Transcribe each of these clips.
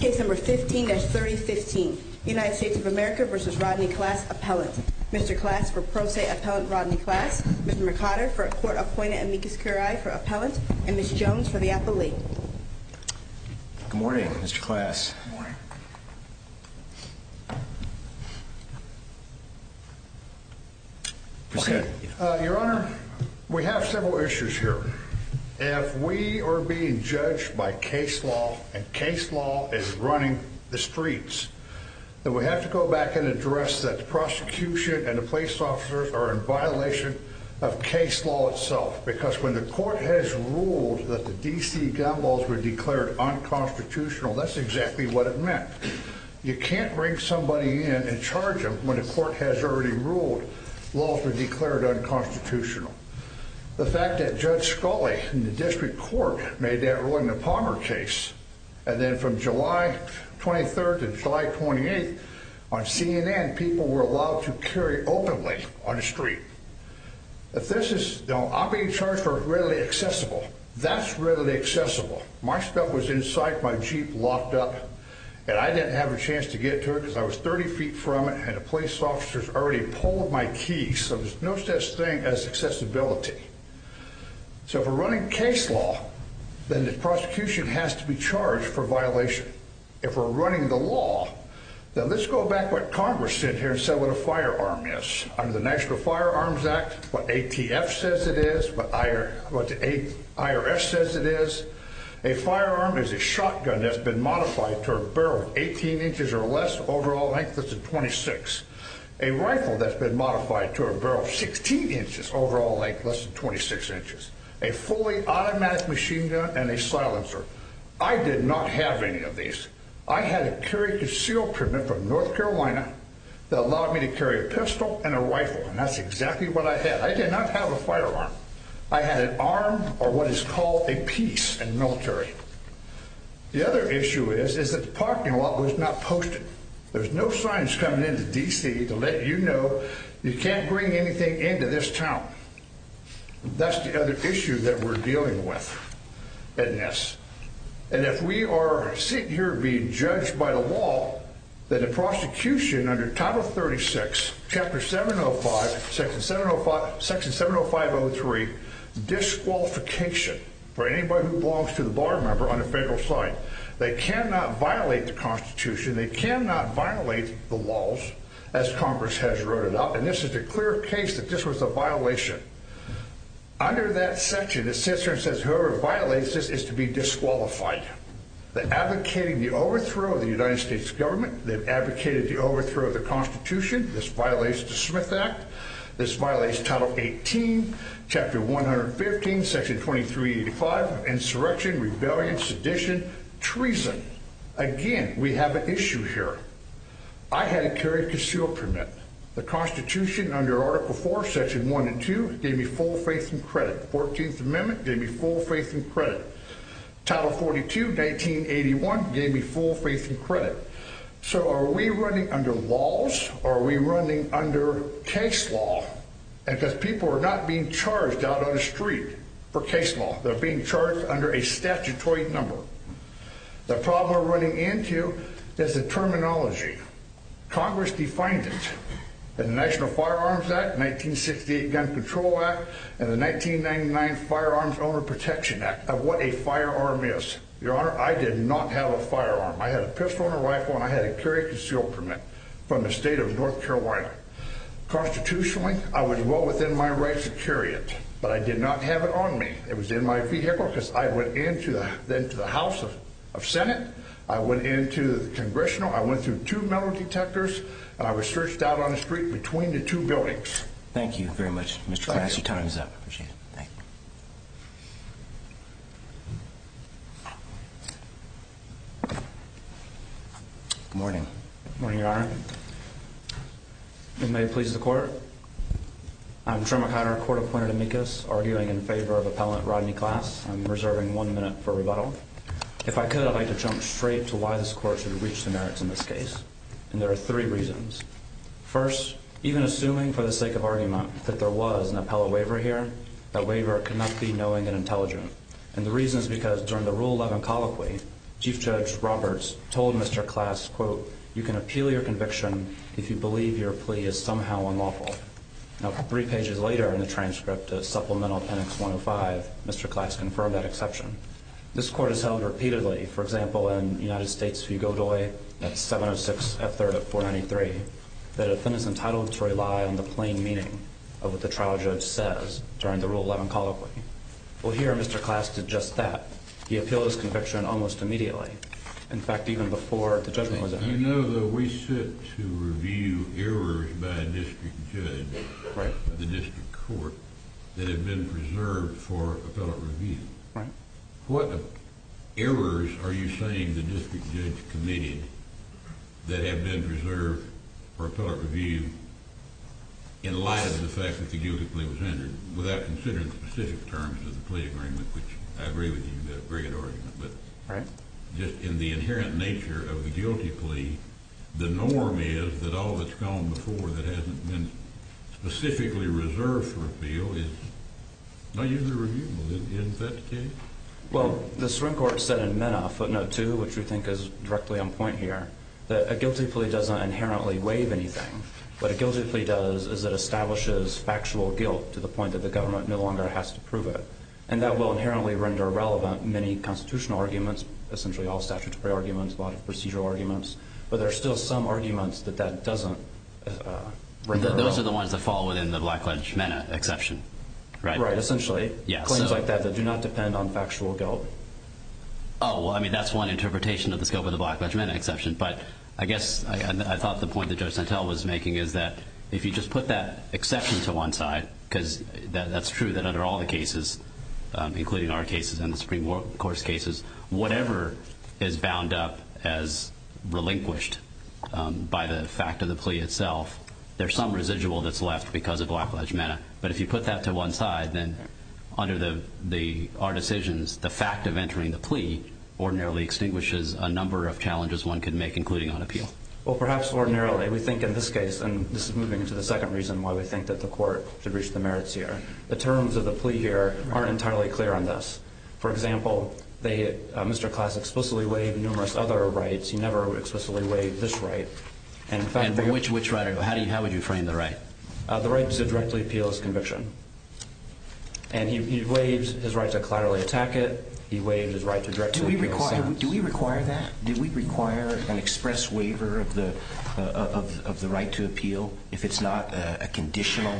Case number 15-3015, United States of America v. Rodney Class Appellant. Mr. Class for Pro Se Appellant Rodney Class, Mr. McOtter for Court Appointed Amicus Curiae for Appellant, and Ms. Jones for the Appellate. Good morning, Mr. Class. Your Honor, we have several issues here. If we are being judged by case law, and case law is running the streets, then we have to go back and address that the prosecution and the police officers are in violation of case law itself. Because when the court has ruled that the D.C. gun laws were declared unconstitutional, that's exactly what it meant. You can't bring somebody in and charge them when the court has already ruled laws were declared unconstitutional. The fact that Judge Scully in the District Court made that ruling in the Palmer case, and then from July 23rd to July 28th on CNN, people were allowed to carry openly on the street. I'm being charged for readily accessible. That's readily accessible. My stuff was inside, my Jeep locked up, and I didn't have a chance to get to it because I was 30 feet from it, and the police officers already pulled my keys. So there's no such thing as accessibility. So if we're running case law, then the prosecution has to be charged for violation. If we're running the law, then let's go back to what Congress said here and say what a firearm is. Under the National Firearms Act, what ATF says it is, what the IRS says it is, a firearm is a shotgun that's been modified to a barrel 18 inches or less, overall length is 26. A rifle that's been modified to a barrel 16 inches, overall length less than 26 inches. A fully automatic machine gun and a silencer. I did not have any of these. I had a carry concealed permit from North Carolina that allowed me to carry a pistol and a rifle, and that's exactly what I had. I did not have a firearm. I had an arm or what is called a piece in the military. The other issue is is that the parking lot was not posted. There's no signs coming into D.C. to let you know you can't bring anything into this town. That's the other issue that we're dealing with in this. And if we are sitting here being judged by the law, then the prosecution under Title 36, Chapter 705, Section 705-03, disqualification for anybody who belongs to the bar member on the federal side. They cannot violate the Constitution. They cannot violate the laws, as Congress has wrote it up. And this is a clear case that this was a violation. Under that section, it says whoever violates this is to be disqualified. They're advocating the overthrow of the United States government. They've advocated the overthrow of the Constitution. This violates the Smith Act. This violates Title 18, Chapter 115, Section 2385, insurrection, rebellion, sedition, treason. Again, we have an issue here. I had a carried concealment permit. The Constitution under Article 4, Section 1 and 2 gave me full faith and credit. The 14th Amendment gave me full faith and credit. Title 42, 1981 gave me full faith and credit. So are we running under laws or are we running under case law? Because people are not being charged out on the street for case law. They're being charged under a statutory number. The problem we're running into is the terminology. Congress defined it in the National Firearms Act, 1968 Gun Control Act, and the 1999 Firearms Owner Protection Act of what a firearm is. Your Honor, I did not have a firearm. I had a pistol and a rifle, and I had a carried concealment permit from the state of North Carolina. Constitutionally, I was well within my right to carry it, but I did not have it on me. It was in my vehicle because I went into the House of Senate. I went into the Congressional. I went through two metal detectors, and I was searched out on the street between the two buildings. Thank you very much, Mr. Clash. Your time is up. I appreciate it. Thank you. Good morning. Good morning, Your Honor. You may please record. I'm Trumac Hunter, court-appointed amicus, arguing in favor of Appellant Rodney Clash. I'm reserving one minute for rebuttal. If I could, I'd like to jump straight to why this court should reach the merits in this case. And there are three reasons. First, even assuming for the sake of argument that there was an appellate waiver here, that waiver cannot be knowing and intelligent. And the reason is because during the Rule 11 colloquy, Chief Judge Roberts told Mr. Clash, quote, You can appeal your conviction if you believe your plea is somehow unlawful. Now, three pages later in the transcript of Supplemental Pen X-105, Mr. Clash confirmed that exception. This court has held repeatedly, for example, in United States v. Godoy at 706 F-3rd of 493, that a defendant is entitled to rely on the plain meaning of what the trial judge says during the Rule 11 colloquy. Well, here Mr. Clash did just that. He appealed his conviction almost immediately. In fact, even before the judgment was out. I know that we sit to review errors by a district judge of the district court that have been preserved for appellate review. What errors are you saying the district judge committed that have been preserved for appellate review in light of the fact that the guilty plea was entered without considering the specific terms of the plea agreement, which I agree with you, that's a very good argument. But just in the inherent nature of the guilty plea, the norm is that all that's gone before that hasn't been specifically reserved for appeal is not usually reviewable. Isn't that the case? Well, the Supreme Court said in MENA footnote 2, which we think is directly on point here, that a guilty plea doesn't inherently waive anything. What a guilty plea does is it establishes factual guilt to the point that the government no longer has to prove it. And that will inherently render irrelevant many constitutional arguments, essentially all statutory arguments, a lot of procedural arguments. But there are still some arguments that that doesn't render relevant. Those are the ones that fall within the Black Ledge MENA exception, right? Right, essentially. Claims like that that do not depend on factual guilt. Oh, well, I mean, that's one interpretation of the scope of the Black Ledge MENA exception. But I guess I thought the point that Judge Santel was making is that if you just put that exception to one side, because that's true that under all the cases, including our cases and the Supreme Court's cases, whatever is bound up as relinquished by the fact of the plea itself, there's some residual that's left because of Black Ledge MENA. But if you put that to one side, then under our decisions, Well, perhaps ordinarily we think in this case, and this is moving into the second reason why we think that the court should reach the merits here, the terms of the plea here aren't entirely clear on this. For example, Mr. Class explicitly waived numerous other rights. He never explicitly waived this right. And which right? How would you frame the right? The right to directly appeal his conviction. And he waived his right to collaterally attack it. He waived his right to directly appeal his sentence. Do we require that? Do we require an express waiver of the right to appeal if it's not a conditional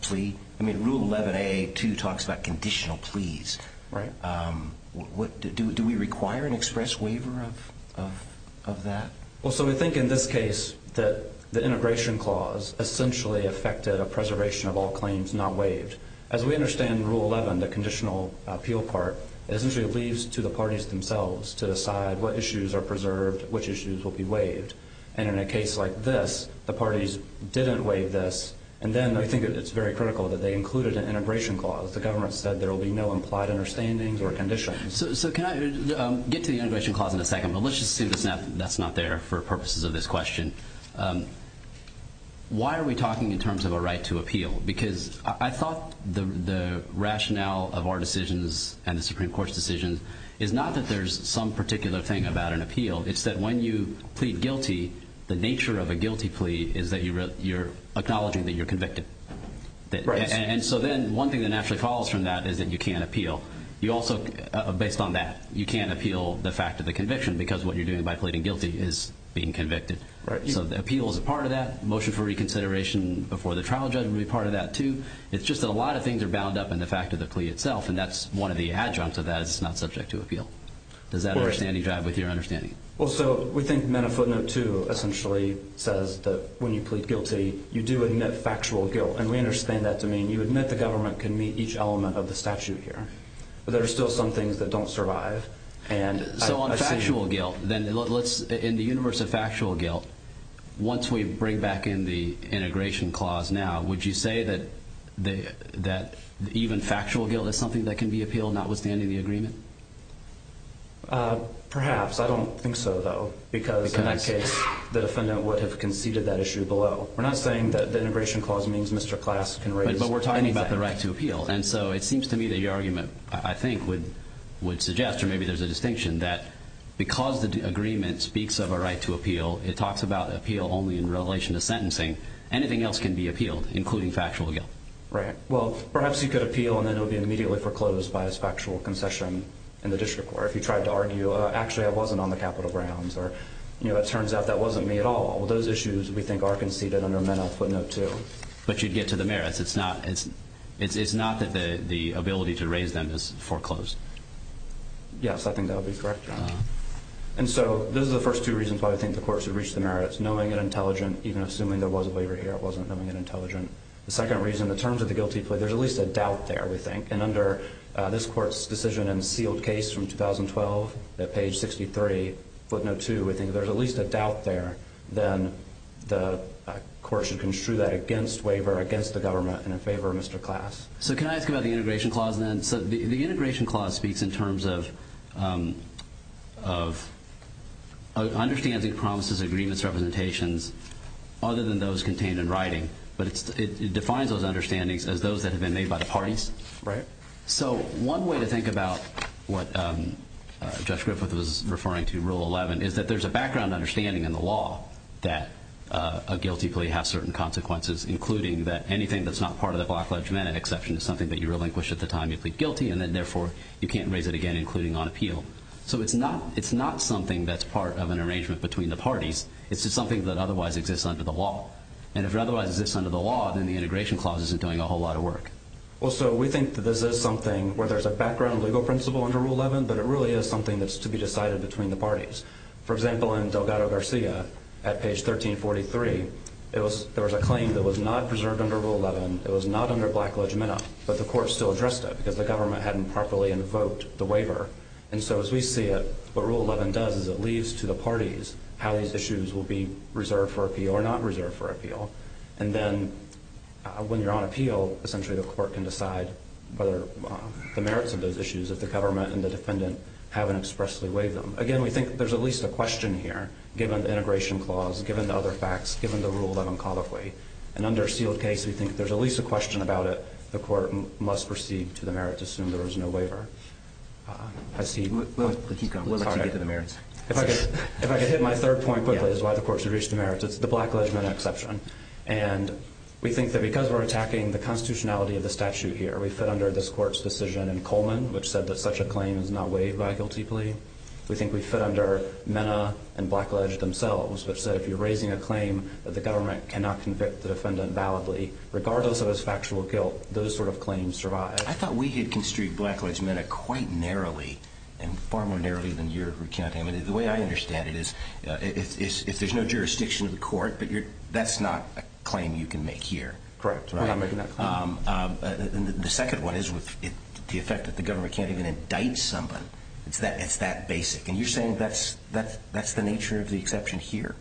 plea? I mean, Rule 11AA2 talks about conditional pleas. Right. Do we require an express waiver of that? Well, so we think in this case that the integration clause essentially affected a preservation of all claims not waived. As we understand in Rule 11, the conditional appeal part essentially leaves to the parties themselves to decide what issues are preserved, which issues will be waived. And in a case like this, the parties didn't waive this, and then I think it's very critical that they included an integration clause. The government said there will be no implied understandings or conditions. So can I get to the integration clause in a second, but let's just assume that's not there for purposes of this question. Why are we talking in terms of a right to appeal? Because I thought the rationale of our decisions and the Supreme Court's decisions is not that there's some particular thing about an appeal. It's that when you plead guilty, the nature of a guilty plea is that you're acknowledging that you're convicted. And so then one thing that naturally follows from that is that you can't appeal. You also, based on that, you can't appeal the fact of the conviction because what you're doing by pleading guilty is being convicted. So the appeal is a part of that. Motion for reconsideration before the trial judge will be part of that, too. It's just that a lot of things are bound up in the fact of the plea itself, and that's one of the adjuncts of that is it's not subject to appeal. Does that understanding drive with your understanding? Well, so we think MENA footnote 2 essentially says that when you plead guilty, you do admit factual guilt, and we understand that to mean you admit the government can meet each element of the statute here. But there are still some things that don't survive. So on factual guilt, then in the universe of factual guilt, once we bring back in the integration clause now, would you say that even factual guilt is something that can be appealed notwithstanding the agreement? Perhaps. I don't think so, though, because in that case, the defendant would have conceded that issue below. We're not saying that the integration clause means Mr. Class can raise that. But we're talking about the right to appeal. And so it seems to me that your argument, I think, would suggest, or maybe there's a distinction, that because the agreement speaks of a right to appeal, it talks about appeal only in relation to sentencing. Anything else can be appealed, including factual guilt. Right. Well, perhaps he could appeal, and then it would be immediately foreclosed by his factual concession in the district court. If he tried to argue, actually, I wasn't on the capital grounds, or it turns out that wasn't me at all, those issues we think are conceded under MENA footnote 2. But you'd get to the merits. It's not that the ability to raise them is foreclosed. Yes, I think that would be correct, Your Honor. And so those are the first two reasons why we think the court should reach the merits, knowing and intelligent, even assuming there was a waiver here. It wasn't knowing and intelligent. The second reason, in terms of the guilty plea, there's at least a doubt there, we think. And under this court's decision in the sealed case from 2012 at page 63, footnote 2, we think there's at least a doubt there. Then the court should construe that against waiver, against the government, and in favor of Mr. Class. So can I ask about the integration clause then? The integration clause speaks in terms of understanding promises, agreements, representations, other than those contained in writing. But it defines those understandings as those that have been made by the parties. Right. So one way to think about what Judge Griffith was referring to in Rule 11 is that there's a background understanding in the law that a guilty plea has certain consequences, including that anything that's not part of the Black Ledge MENA exception is something that you relinquish at the time you plead guilty, and then therefore you can't raise it again, including on appeal. So it's not something that's part of an arrangement between the parties. It's just something that otherwise exists under the law. And if it otherwise exists under the law, then the integration clause isn't doing a whole lot of work. Well, so we think that this is something where there's a background legal principle under Rule 11, but it really is something that's to be decided between the parties. For example, in Delgado-Garcia, at page 1343, there was a claim that was not preserved under Rule 11. It was not under Black Ledge MENA, but the court still addressed it because the government hadn't properly invoked the waiver. And so as we see it, what Rule 11 does is it leaves to the parties how these issues will be reserved for appeal or not reserved for appeal. And then when you're on appeal, essentially the court can decide whether the merits of those issues if the government and the defendant haven't expressly waived them. Again, we think there's at least a question here, given the integration clause, given the other facts, given the Rule 11 codify. In an under-sealed case, we think there's at least a question about it. The court must proceed to the merits, assume there was no waiver. I see. We'll let you get to the merits. If I could hit my third point quickly as to why the court should reach the merits, it's the Black Ledge MENA exception. And we think that because we're attacking the constitutionality of the statute here, we fit under this court's decision in Coleman, which said that such a claim is not waived by a guilty plea. We think we fit under MENA and Black Ledge themselves, which said if you're raising a claim that the government cannot convict the defendant validly, regardless of his factual guilt, those sort of claims survive. I thought we had construed Black Ledge MENA quite narrowly, and far more narrowly than you're recounting. The way I understand it is if there's no jurisdiction of the court, that's not a claim you can make here. Correct. I'm making that claim. The second one is with the effect that the government can't even indict someone. It's that basic. And you're saying that's the nature of the exception here.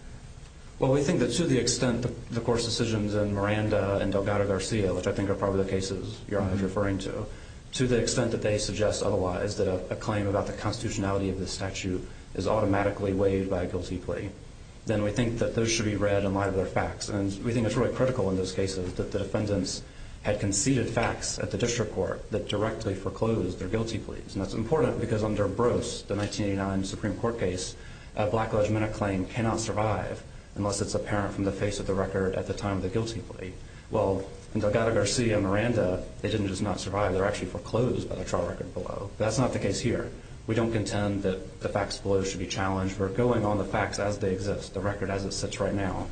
Well, we think that to the extent the court's decisions in Miranda and Delgado-Garcia, which I think are probably the cases you're referring to, to the extent that they suggest otherwise that a claim about the constitutionality of the statute is automatically waived by a guilty plea, then we think that those should be read in light of their facts. And we think it's really critical in those cases that the defendants had conceded facts at the district court that directly foreclosed their guilty pleas. And that's important because under Brose, the 1989 Supreme Court case, a Black Ledge MENA claim cannot survive unless it's apparent from the face of the record at the time of the guilty plea. Well, in Delgado-Garcia and Miranda, they didn't just not survive. They were actually foreclosed by the trial record below. That's not the case here. We don't contend that the facts below should be challenged. We're going on the facts as they exist, the record as it sits right now,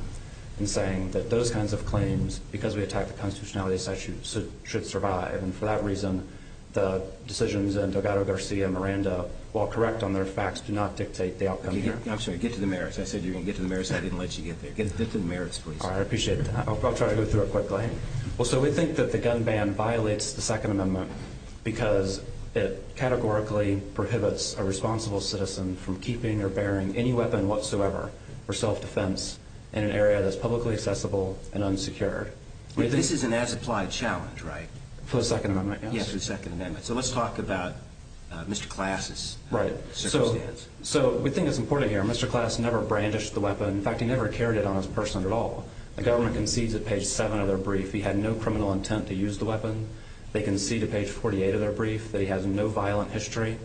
and saying that those kinds of claims, because we attacked the constitutionality of the statute, should survive. And for that reason, the decisions in Delgado-Garcia and Miranda, while correct on their facts, do not dictate the outcome here. I'm sorry, get to the merits. I said you're going to get to the merits. I didn't let you get there. Get to the merits, please. All right, I appreciate that. I'll try to go through it quickly. Well, so we think that the gun ban violates the Second Amendment because it categorically prohibits a responsible citizen from keeping or bearing any weapon whatsoever for self-defense in an area that's publicly accessible and unsecured. This is an as-applied challenge, right? For the Second Amendment, yes. Yes, for the Second Amendment. So let's talk about Mr. Klass's circumstance. Right. So we think it's important here. Mr. Klass never brandished the weapon. In fact, he never carried it on his person at all. The government concedes at page 7 of their brief he had no criminal intent to use the weapon. They concede at page 48 of their brief that he has no violent history.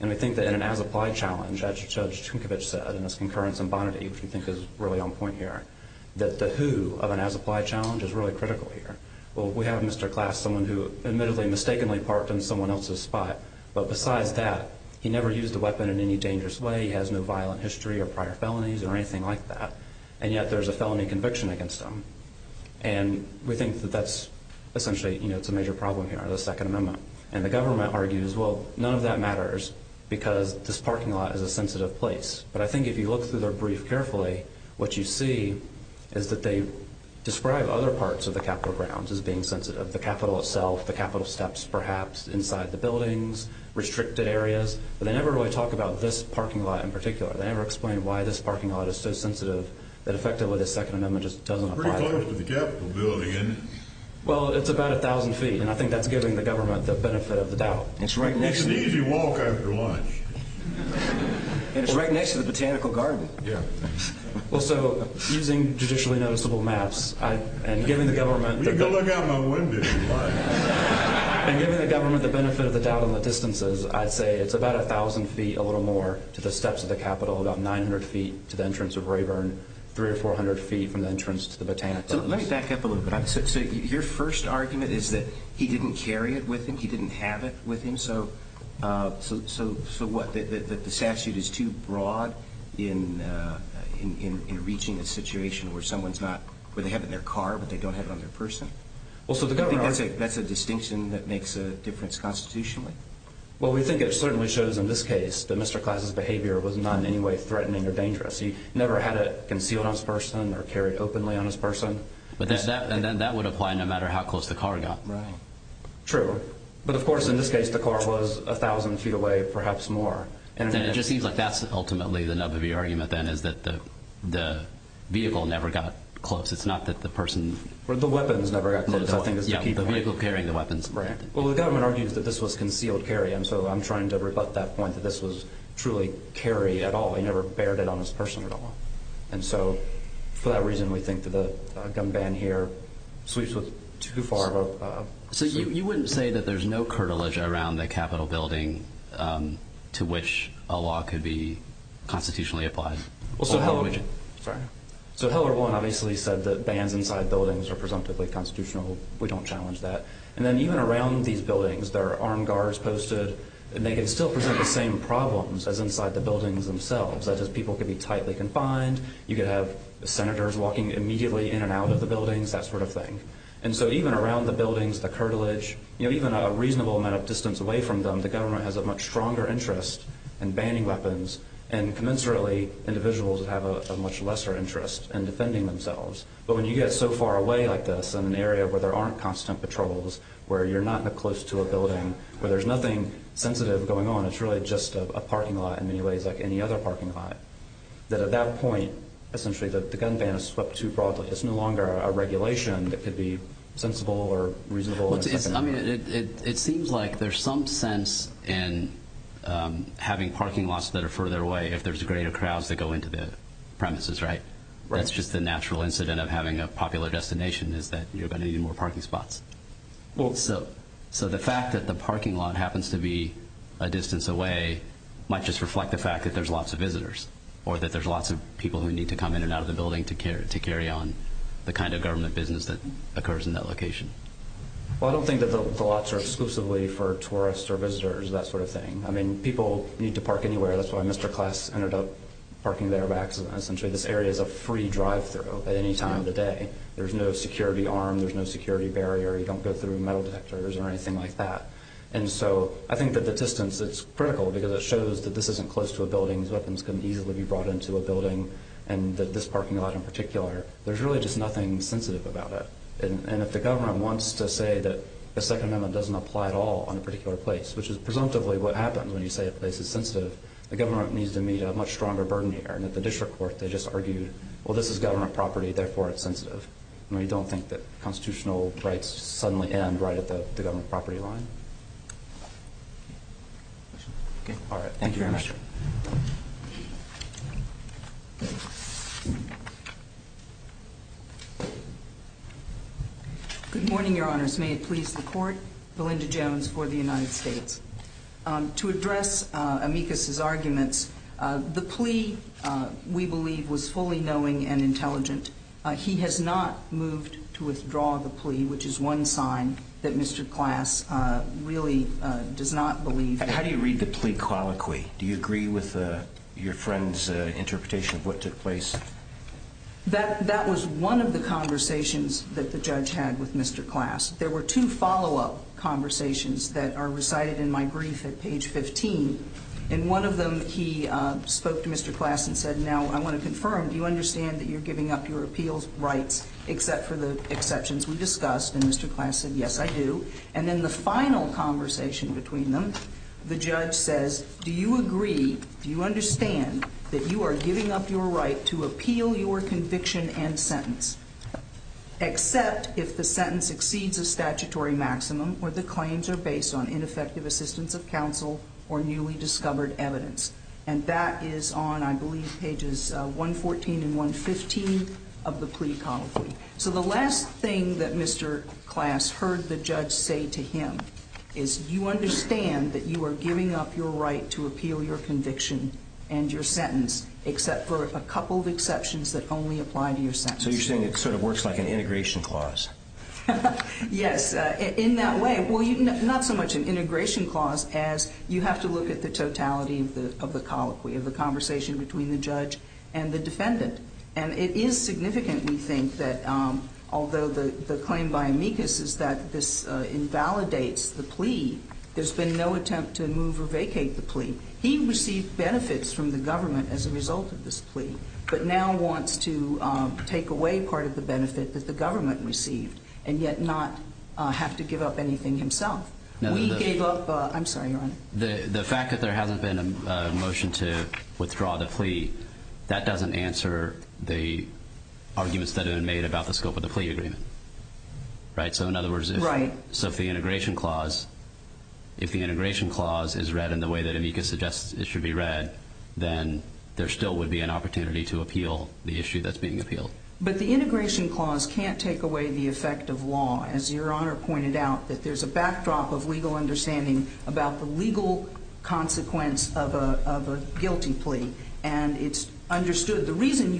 And we think that in an as-applied challenge, as Judge Tinkovich said in his concurrence in Bonaty, which we think is really on point here, that the who of an as-applied challenge is really critical here. Well, we have Mr. Klass, someone who admittedly mistakenly parked in someone else's spot. But besides that, he never used a weapon in any dangerous way. He has no violent history or prior felonies or anything like that. And yet there's a felony conviction against him. And we think that that's essentially a major problem here under the Second Amendment. And the government argues, well, none of that matters because this parking lot is a sensitive place. But I think if you look through their brief carefully, what you see is that they describe other parts of the Capitol grounds as being sensitive, the Capitol itself, the Capitol steps perhaps, inside the buildings, restricted areas. But they never really talk about this parking lot in particular. They never explain why this parking lot is so sensitive that effectively the Second Amendment just doesn't apply. It's pretty close to the Capitol building, isn't it? Well, it's about 1,000 feet. And I think that's giving the government the benefit of the doubt. It's an easy walk after lunch. And it's right next to the Botanical Garden. Yeah. Well, so using judicially noticeable maps and giving the government the benefit of the doubt on the distances, I'd say it's about 1,000 feet, a little more, to the steps of the Capitol, about 900 feet to the entrance of Rayburn, 300 or 400 feet from the entrance to the Botanicals. Let me back up a little bit. So your first argument is that he didn't carry it with him? He didn't have it with him? So what, that the statute is too broad in reaching a situation where someone's not – where they have it in their car but they don't have it on their person? Well, so the government – Do you think that's a distinction that makes a difference constitutionally? Well, we think it certainly shows in this case that Mr. Class's behavior was not in any way threatening or dangerous. He never had it concealed on his person or carried openly on his person. And then that would apply no matter how close the car got? Right. True. But, of course, in this case the car was 1,000 feet away, perhaps more. And it just seems like that's ultimately the nub of your argument then, is that the vehicle never got close. It's not that the person – Or the weapons never got close, I think is the key point. Yeah, the vehicle carrying the weapons. Right. Well, the government argues that this was concealed carry, and so I'm trying to rebut that point, that this was truly carry at all. He never bared it on his person at all. So you wouldn't say that there's no curtilage around the Capitol building to which a law could be constitutionally applied? Well, so Heller 1 obviously said that bans inside buildings are presumptively constitutional. We don't challenge that. And then even around these buildings there are armed guards posted, and they can still present the same problems as inside the buildings themselves, such as people could be tightly confined, you could have senators walking immediately in and out of the buildings, that sort of thing. And so even around the buildings, the curtilage, even a reasonable amount of distance away from them, the government has a much stronger interest in banning weapons, and commensurately individuals have a much lesser interest in defending themselves. But when you get so far away like this in an area where there aren't constant patrols, where you're not close to a building, where there's nothing sensitive going on, it's really just a parking lot in many ways like any other parking lot, that at that point essentially the gun ban is swept too broadly. It's no longer a regulation that could be sensible or reasonable. It seems like there's some sense in having parking lots that are further away if there's greater crowds that go into the premises, right? That's just the natural incident of having a popular destination is that you're going to need more parking spots. So the fact that the parking lot happens to be a distance away might just reflect the fact that there's lots of visitors or that there's lots of people who need to come in and out of the building to carry on the kind of government business that occurs in that location. Well, I don't think that the lots are exclusively for tourists or visitors, that sort of thing. I mean, people need to park anywhere. That's why Mr. Klass ended up parking there, because essentially this area is a free drive-through at any time of the day. There's no security arm. There's no security barrier. You don't go through metal detectors or anything like that. And so I think that the distance is critical because it shows that this isn't close to a building. These weapons couldn't easily be brought into a building, and this parking lot in particular. There's really just nothing sensitive about it. And if the government wants to say that the Second Amendment doesn't apply at all on a particular place, which is presumptively what happens when you say a place is sensitive, the government needs to meet a much stronger burden here. And at the district court they just argued, well, this is government property, therefore it's sensitive. I mean, you don't think that constitutional rights suddenly end right at the government property line. All right. Thank you very much. Good morning, Your Honors. May it please the Court. Belinda Jones for the United States. To address Amicus's arguments, the plea, we believe, was fully knowing and intelligent. He has not moved to withdraw the plea, which is one sign that Mr. Klass really does not believe. How do you read the plea colloquy? Do you agree with your friend's interpretation of what took place? That was one of the conversations that the judge had with Mr. Klass. There were two follow-up conversations that are recited in my brief at page 15, and one of them he spoke to Mr. Klass and said, now I want to confirm, do you understand that you're giving up your appeals rights except for the exceptions we discussed? And Mr. Klass said, yes, I do. And then the final conversation between them, the judge says, do you agree, do you understand that you are giving up your right to appeal your conviction and sentence except if the sentence exceeds a statutory maximum or the claims are based on ineffective assistance of counsel or newly discovered evidence? And that is on, I believe, pages 114 and 115 of the plea colloquy. So the last thing that Mr. Klass heard the judge say to him is, do you understand that you are giving up your right to appeal your conviction and your sentence except for a couple of exceptions that only apply to your sentence? So you're saying it sort of works like an integration clause? Yes, in that way. Well, not so much an integration clause as you have to look at the totality of the colloquy, of the conversation between the judge and the defendant. And it is significant, we think, that although the claim by amicus is that this invalidates the plea, there's been no attempt to move or vacate the plea. He received benefits from the government as a result of this plea, but now wants to take away part of the benefit that the government received and yet not have to give up anything himself. We gave up... I'm sorry, Your Honor. The fact that there hasn't been a motion to withdraw the plea, that doesn't answer the arguments that have been made about the scope of the plea agreement, right? So in other words... Right. So if the integration clause is read in the way that amicus suggests it should be read, then there still would be an opportunity to appeal the issue that's being appealed. But the integration clause can't take away the effect of law. As Your Honor pointed out, there's a backdrop of legal understanding about the legal consequence of a guilty plea, and it's understood the reason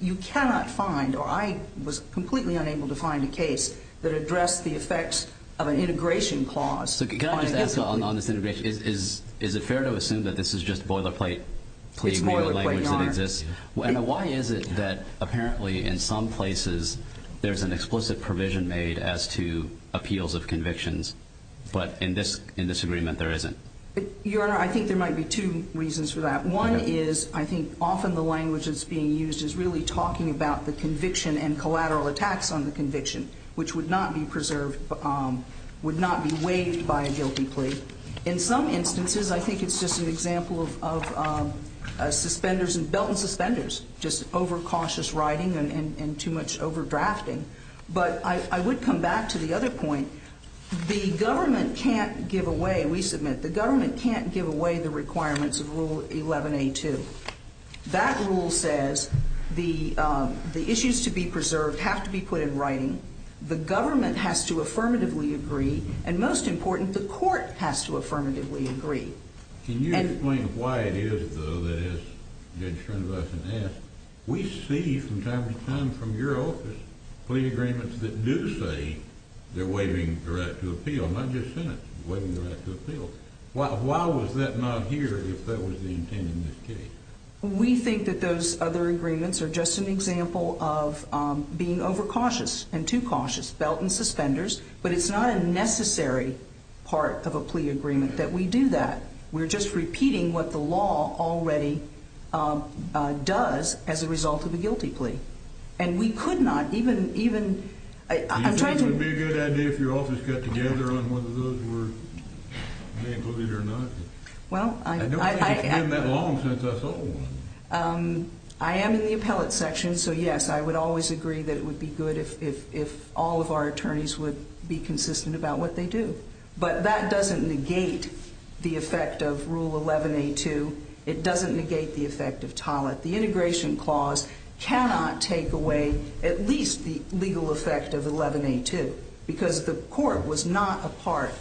you cannot find, or I was completely unable to find, a case that addressed the effects of an integration clause on a guilty plea. So can I just ask on this integration, is it fair to assume that this is just boilerplate plea legal language that exists? It's boilerplate, Your Honor. And why is it that apparently in some places there's an explicit provision made as to appeals of convictions, but in this agreement there isn't? Your Honor, I think there might be two reasons for that. One is I think often the language that's being used is really talking about the conviction and collateral attacks on the conviction, which would not be preserved, would not be waived by a guilty plea. In some instances I think it's just an example of suspenders and belt and suspenders, just overcautious writing and too much overdrafting. But I would come back to the other point. The government can't give away, we submit, the government can't give away the requirements of Rule 11A2. That rule says the issues to be preserved have to be put in writing, the government has to affirmatively agree, and most important, the court has to affirmatively agree. Can you explain why it is, though, that as Judge Schoenweiss has asked, we see from time to time from your office plea agreements that do say they're waiving the right to appeal, not just Senate, waiving the right to appeal. Why was that not here if that was the intent in this case? We think that those other agreements are just an example of being overcautious and too cautious, belt and suspenders, but it's not a necessary part of a plea agreement that we do that. We're just repeating what the law already does as a result of a guilty plea. And we could not even, even, I'm trying to- Do you think it would be a good idea if your office got together on whether those were waived or not? Well, I- I don't think it's been that long since I saw one. I am in the appellate section, so yes, I would always agree that it would be good if all of our attorneys would be consistent about what they do. But that doesn't negate the effect of Rule 11A2. It doesn't negate the effect of TOLET. The integration clause cannot take away at least the legal effect of 11A2 because the court was not a part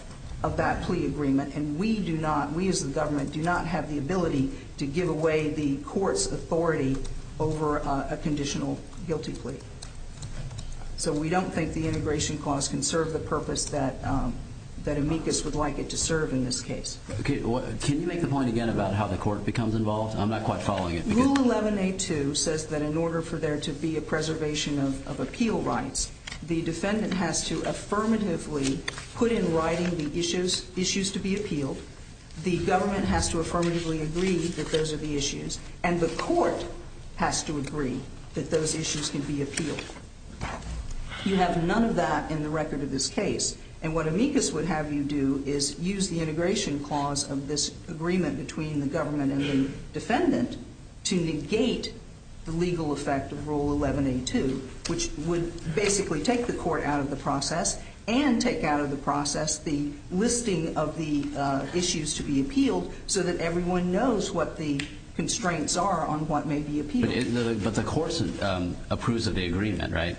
of that plea agreement, and we do not, we as the government, do not have the ability to give away the court's authority over a conditional guilty plea. So we don't think the integration clause can serve the purpose that amicus would like it to serve in this case. Can you make the point again about how the court becomes involved? I'm not quite following it. Rule 11A2 says that in order for there to be a preservation of appeal rights, the defendant has to affirmatively put in writing the issues to be appealed, the government has to affirmatively agree that those are the issues, and the court has to agree that those issues can be appealed. You have none of that in the record of this case, and what amicus would have you do is use the integration clause of this agreement between the government and the defendant to negate the legal effect of Rule 11A2, which would basically take the court out of the process and take out of the process the listing of the issues to be appealed so that everyone knows what the constraints are on what may be appealed. But the court approves of the agreement, right?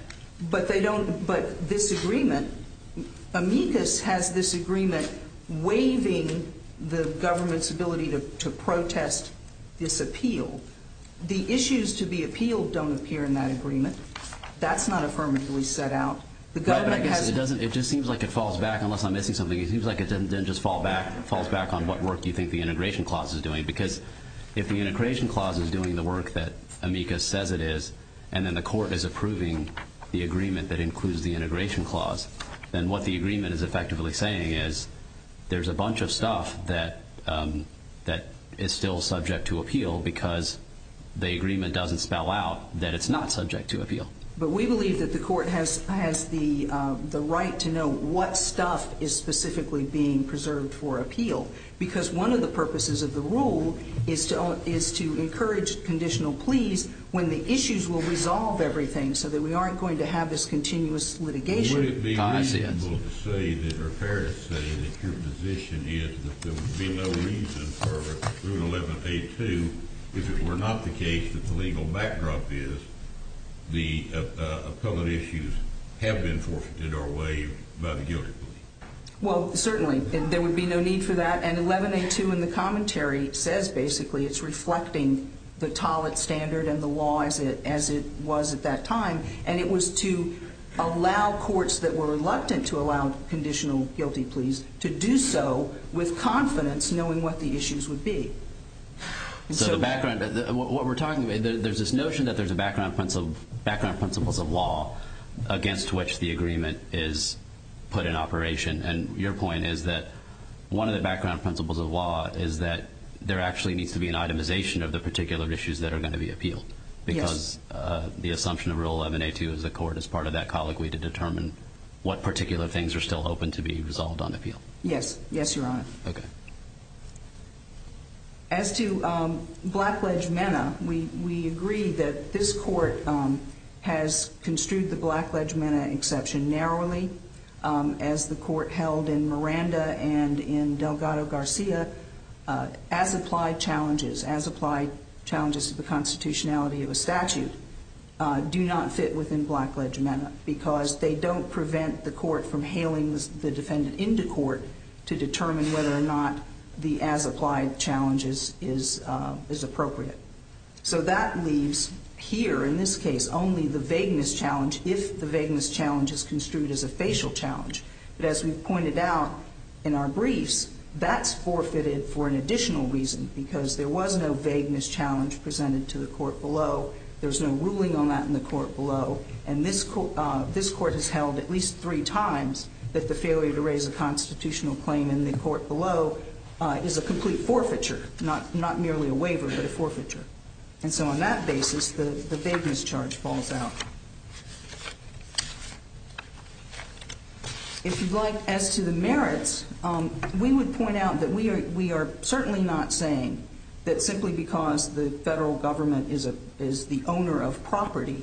But they don't, but this agreement, amicus has this agreement waiving the government's ability to protest this appeal. The issues to be appealed don't appear in that agreement. That's not affirmatively set out. It just seems like it falls back, unless I'm missing something. It seems like it then just falls back on what work you think the integration clause is doing because if the integration clause is doing the work that amicus says it is and then the court is approving the agreement that includes the integration clause, then what the agreement is effectively saying is there's a bunch of stuff that is still subject to appeal because the agreement doesn't spell out that it's not subject to appeal. But we believe that the court has the right to know what stuff is specifically being preserved for appeal because one of the purposes of the rule is to encourage conditional pleas when the issues will resolve everything so that we aren't going to have this continuous litigation Would it be reasonable to say or fair to say that your position is that there would be no reason for Rule 11.A.2 if it were not the case that the legal backdrop is the appellate issues have been forfeited or waived by the guilty plea? Well, certainly. There would be no need for that. And 11.A.2 in the commentary says basically it's reflecting the Tollett Standard and the law as it was at that time. And it was to allow courts that were reluctant to allow conditional guilty pleas to do so with confidence knowing what the issues would be. So the background, what we're talking about, there's this notion that there's a background principles of law against which the agreement is put in operation and your point is that one of the background principles of law is that there actually needs to be an itemization of the particular issues that are going to be appealed because the assumption of Rule 11.A.2 as a court is part of that colloquy to determine what particular things are still open to be resolved on appeal. Yes. Yes, Your Honor. Okay. As to Blackledge-Mena, we agree that this court has construed the Blackledge-Mena exception narrowly as the court held in Miranda and in Delgado-Garcia as applied challenges, as applied challenges to the constitutionality of a statute, do not fit within Blackledge-Mena because they don't prevent the court from hailing the defendant into court to determine whether or not the as applied challenge is appropriate. So that leaves here in this case only the vagueness challenge if the vagueness challenge is construed as a facial challenge. But as we've pointed out in our briefs, that's forfeited for an additional reason because there was no vagueness challenge presented to the court below. There's no ruling on that in the court below. And this court has held at least three times that the failure to raise a constitutional claim in the court below is a complete forfeiture, not merely a waiver, but a forfeiture. And so on that basis, the vagueness charge falls out. If you'd like, as to the merits, we would point out that we are certainly not saying that simply because the federal government is the owner of property,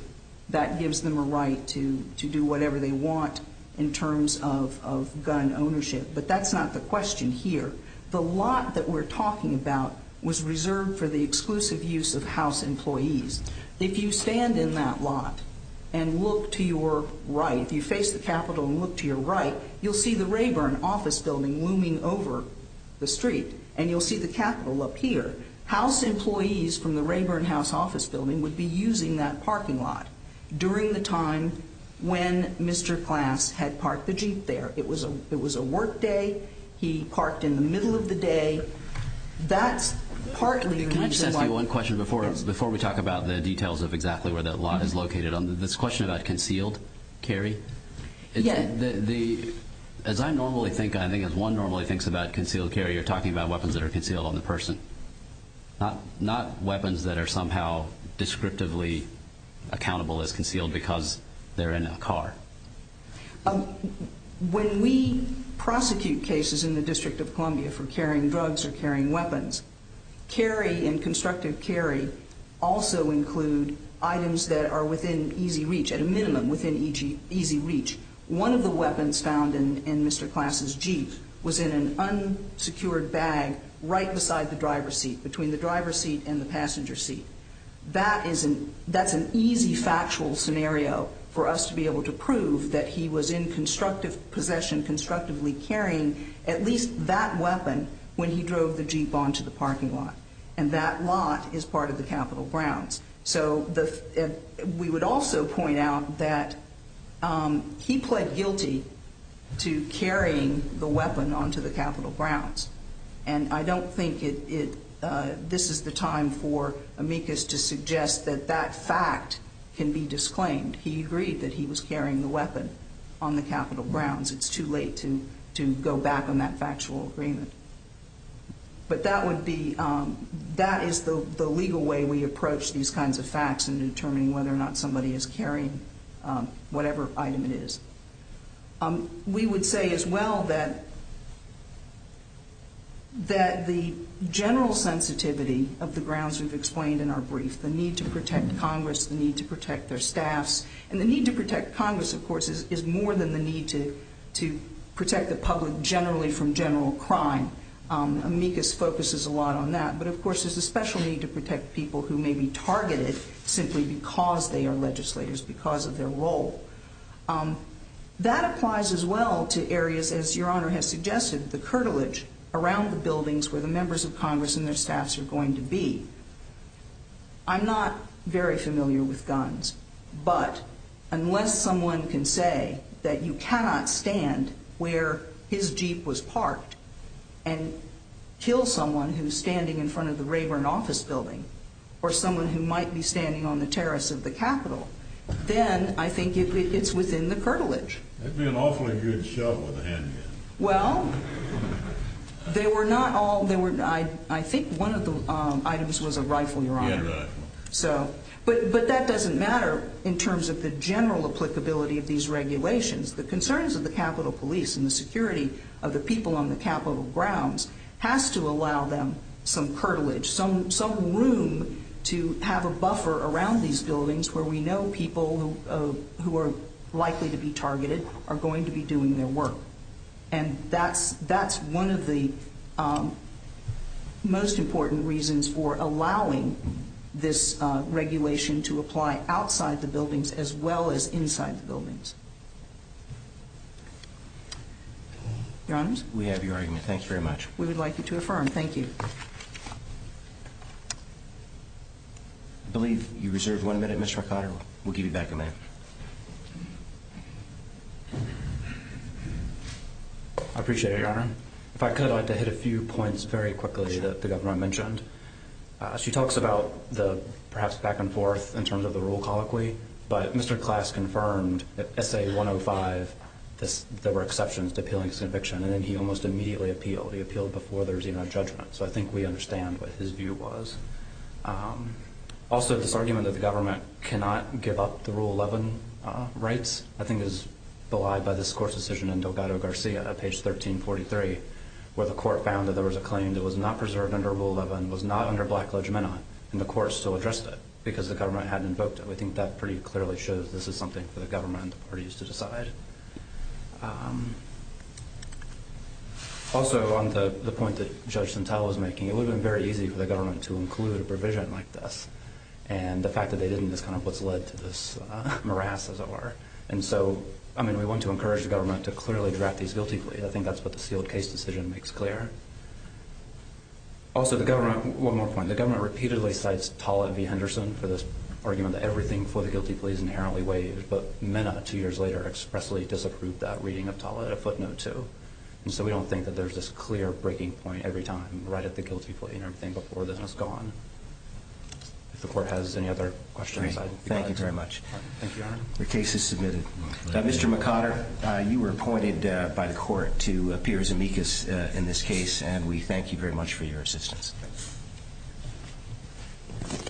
that gives them a right to do whatever they want in terms of gun ownership. But that's not the question here. The lot that we're talking about was reserved for the exclusive use of house employees. If you stand in that lot and look to your right, if you face the Capitol and look to your right, you'll see the Rayburn office building looming over the street, and you'll see the Capitol up here. House employees from the Rayburn House office building would be using that parking lot during the time when Mr. Klass had parked the Jeep there. It was a work day. He parked in the middle of the day. That's partly the reason why- Can I just ask you one question before we talk about the details of exactly where that lot is located? This question about concealed carry? Yeah. As I normally think, I think as one normally thinks about concealed carry, you're talking about weapons that are concealed on the person, not weapons that are somehow descriptively accountable as concealed because they're in a car. When we prosecute cases in the District of Columbia for carrying drugs or carrying weapons, carry and constructive carry also include items that are within easy reach, at a minimum within easy reach. One of the weapons found in Mr. Klass's Jeep was in an unsecured bag right beside the driver's seat, between the driver's seat and the passenger seat. That's an easy factual scenario for us to be able to prove that he was in possession constructively carrying at least that weapon when he drove the Jeep onto the parking lot, and that lot is part of the Capitol grounds. So we would also point out that he pled guilty to carrying the weapon onto the Capitol grounds, and I don't think this is the time for amicus to suggest that that fact can be disclaimed. He agreed that he was carrying the weapon on the Capitol grounds. It's too late to go back on that factual agreement. But that is the legal way we approach these kinds of facts in determining whether or not somebody is carrying whatever item it is. We would say as well that the general sensitivity of the grounds we've explained in our brief, the need to protect Congress, the need to protect their staffs, and the need to protect Congress, of course, is more than the need to protect the public generally from general crime. Amicus focuses a lot on that. But, of course, there's a special need to protect people who may be targeted simply because they are legislators, because of their role. That applies as well to areas, as Your Honor has suggested, the curtilage around the buildings where the members of Congress and their staffs are going to be. I'm not very familiar with guns, but unless someone can say that you cannot stand where his Jeep was parked and kill someone who's standing in front of the Rayburn office building or someone who might be standing on the terrace of the Capitol, then I think it's within the curtilage. That'd be an awfully good shove with a handgun. Well, they were not all. I think one of the items was a rifle, Your Honor. Hand rifle. But that doesn't matter in terms of the general applicability of these regulations. The concerns of the Capitol Police and the security of the people on the Capitol grounds has to allow them some curtilage, some room to have a buffer around these buildings where we know people who are likely to be targeted are going to be doing their work. And that's one of the most important reasons for allowing this regulation to apply outside the buildings as well as inside the buildings. Your Honors? We have your argument. Thank you very much. We would like you to affirm. Thank you. I believe you reserved one minute, Mr. McConnell. We'll give you back a minute. I appreciate it, Your Honor. If I could, I'd like to hit a few points very quickly that the Governor mentioned. She talks about the perhaps back and forth in terms of the rule colloquy. But Mr. Klass confirmed that SA-105, there were exceptions to appealing his conviction. And then he almost immediately appealed. He appealed before there was even a judgment. So I think we understand what his view was. Also, this argument that the government cannot give up the Rule 11 rights, I think is belied by this Court's decision in Delgado Garcia, page 1343, where the Court found that there was a claim that was not preserved under Rule 11, was not under Black Legimenta, and the Court still addressed it because the government hadn't invoked it. We think that pretty clearly shows this is something for the government and the parties to decide. Also, on the point that Judge Santel was making, it would have been very easy for the government to include a provision like this. And the fact that they didn't is kind of what's led to this morass, as it were. And so, I mean, we want to encourage the government to clearly draft these guilty pleas. I think that's what the sealed case decision makes clear. Also, one more point. The government repeatedly cites Tollett v. Henderson for this argument that everything before the guilty plea is inherently waived. But Mena, two years later, expressly disapproved that reading of Tollett, a footnote, too. And so we don't think that there's this clear breaking point every time, right at the guilty plea and everything, before this has gone. If the Court has any other questions, I'd be glad to answer them. Great. Thank you very much. Thank you, Your Honor. The case is submitted. Mr. McOtter, you were appointed by the Court to appear as amicus in this case, and we thank you very much for your assistance.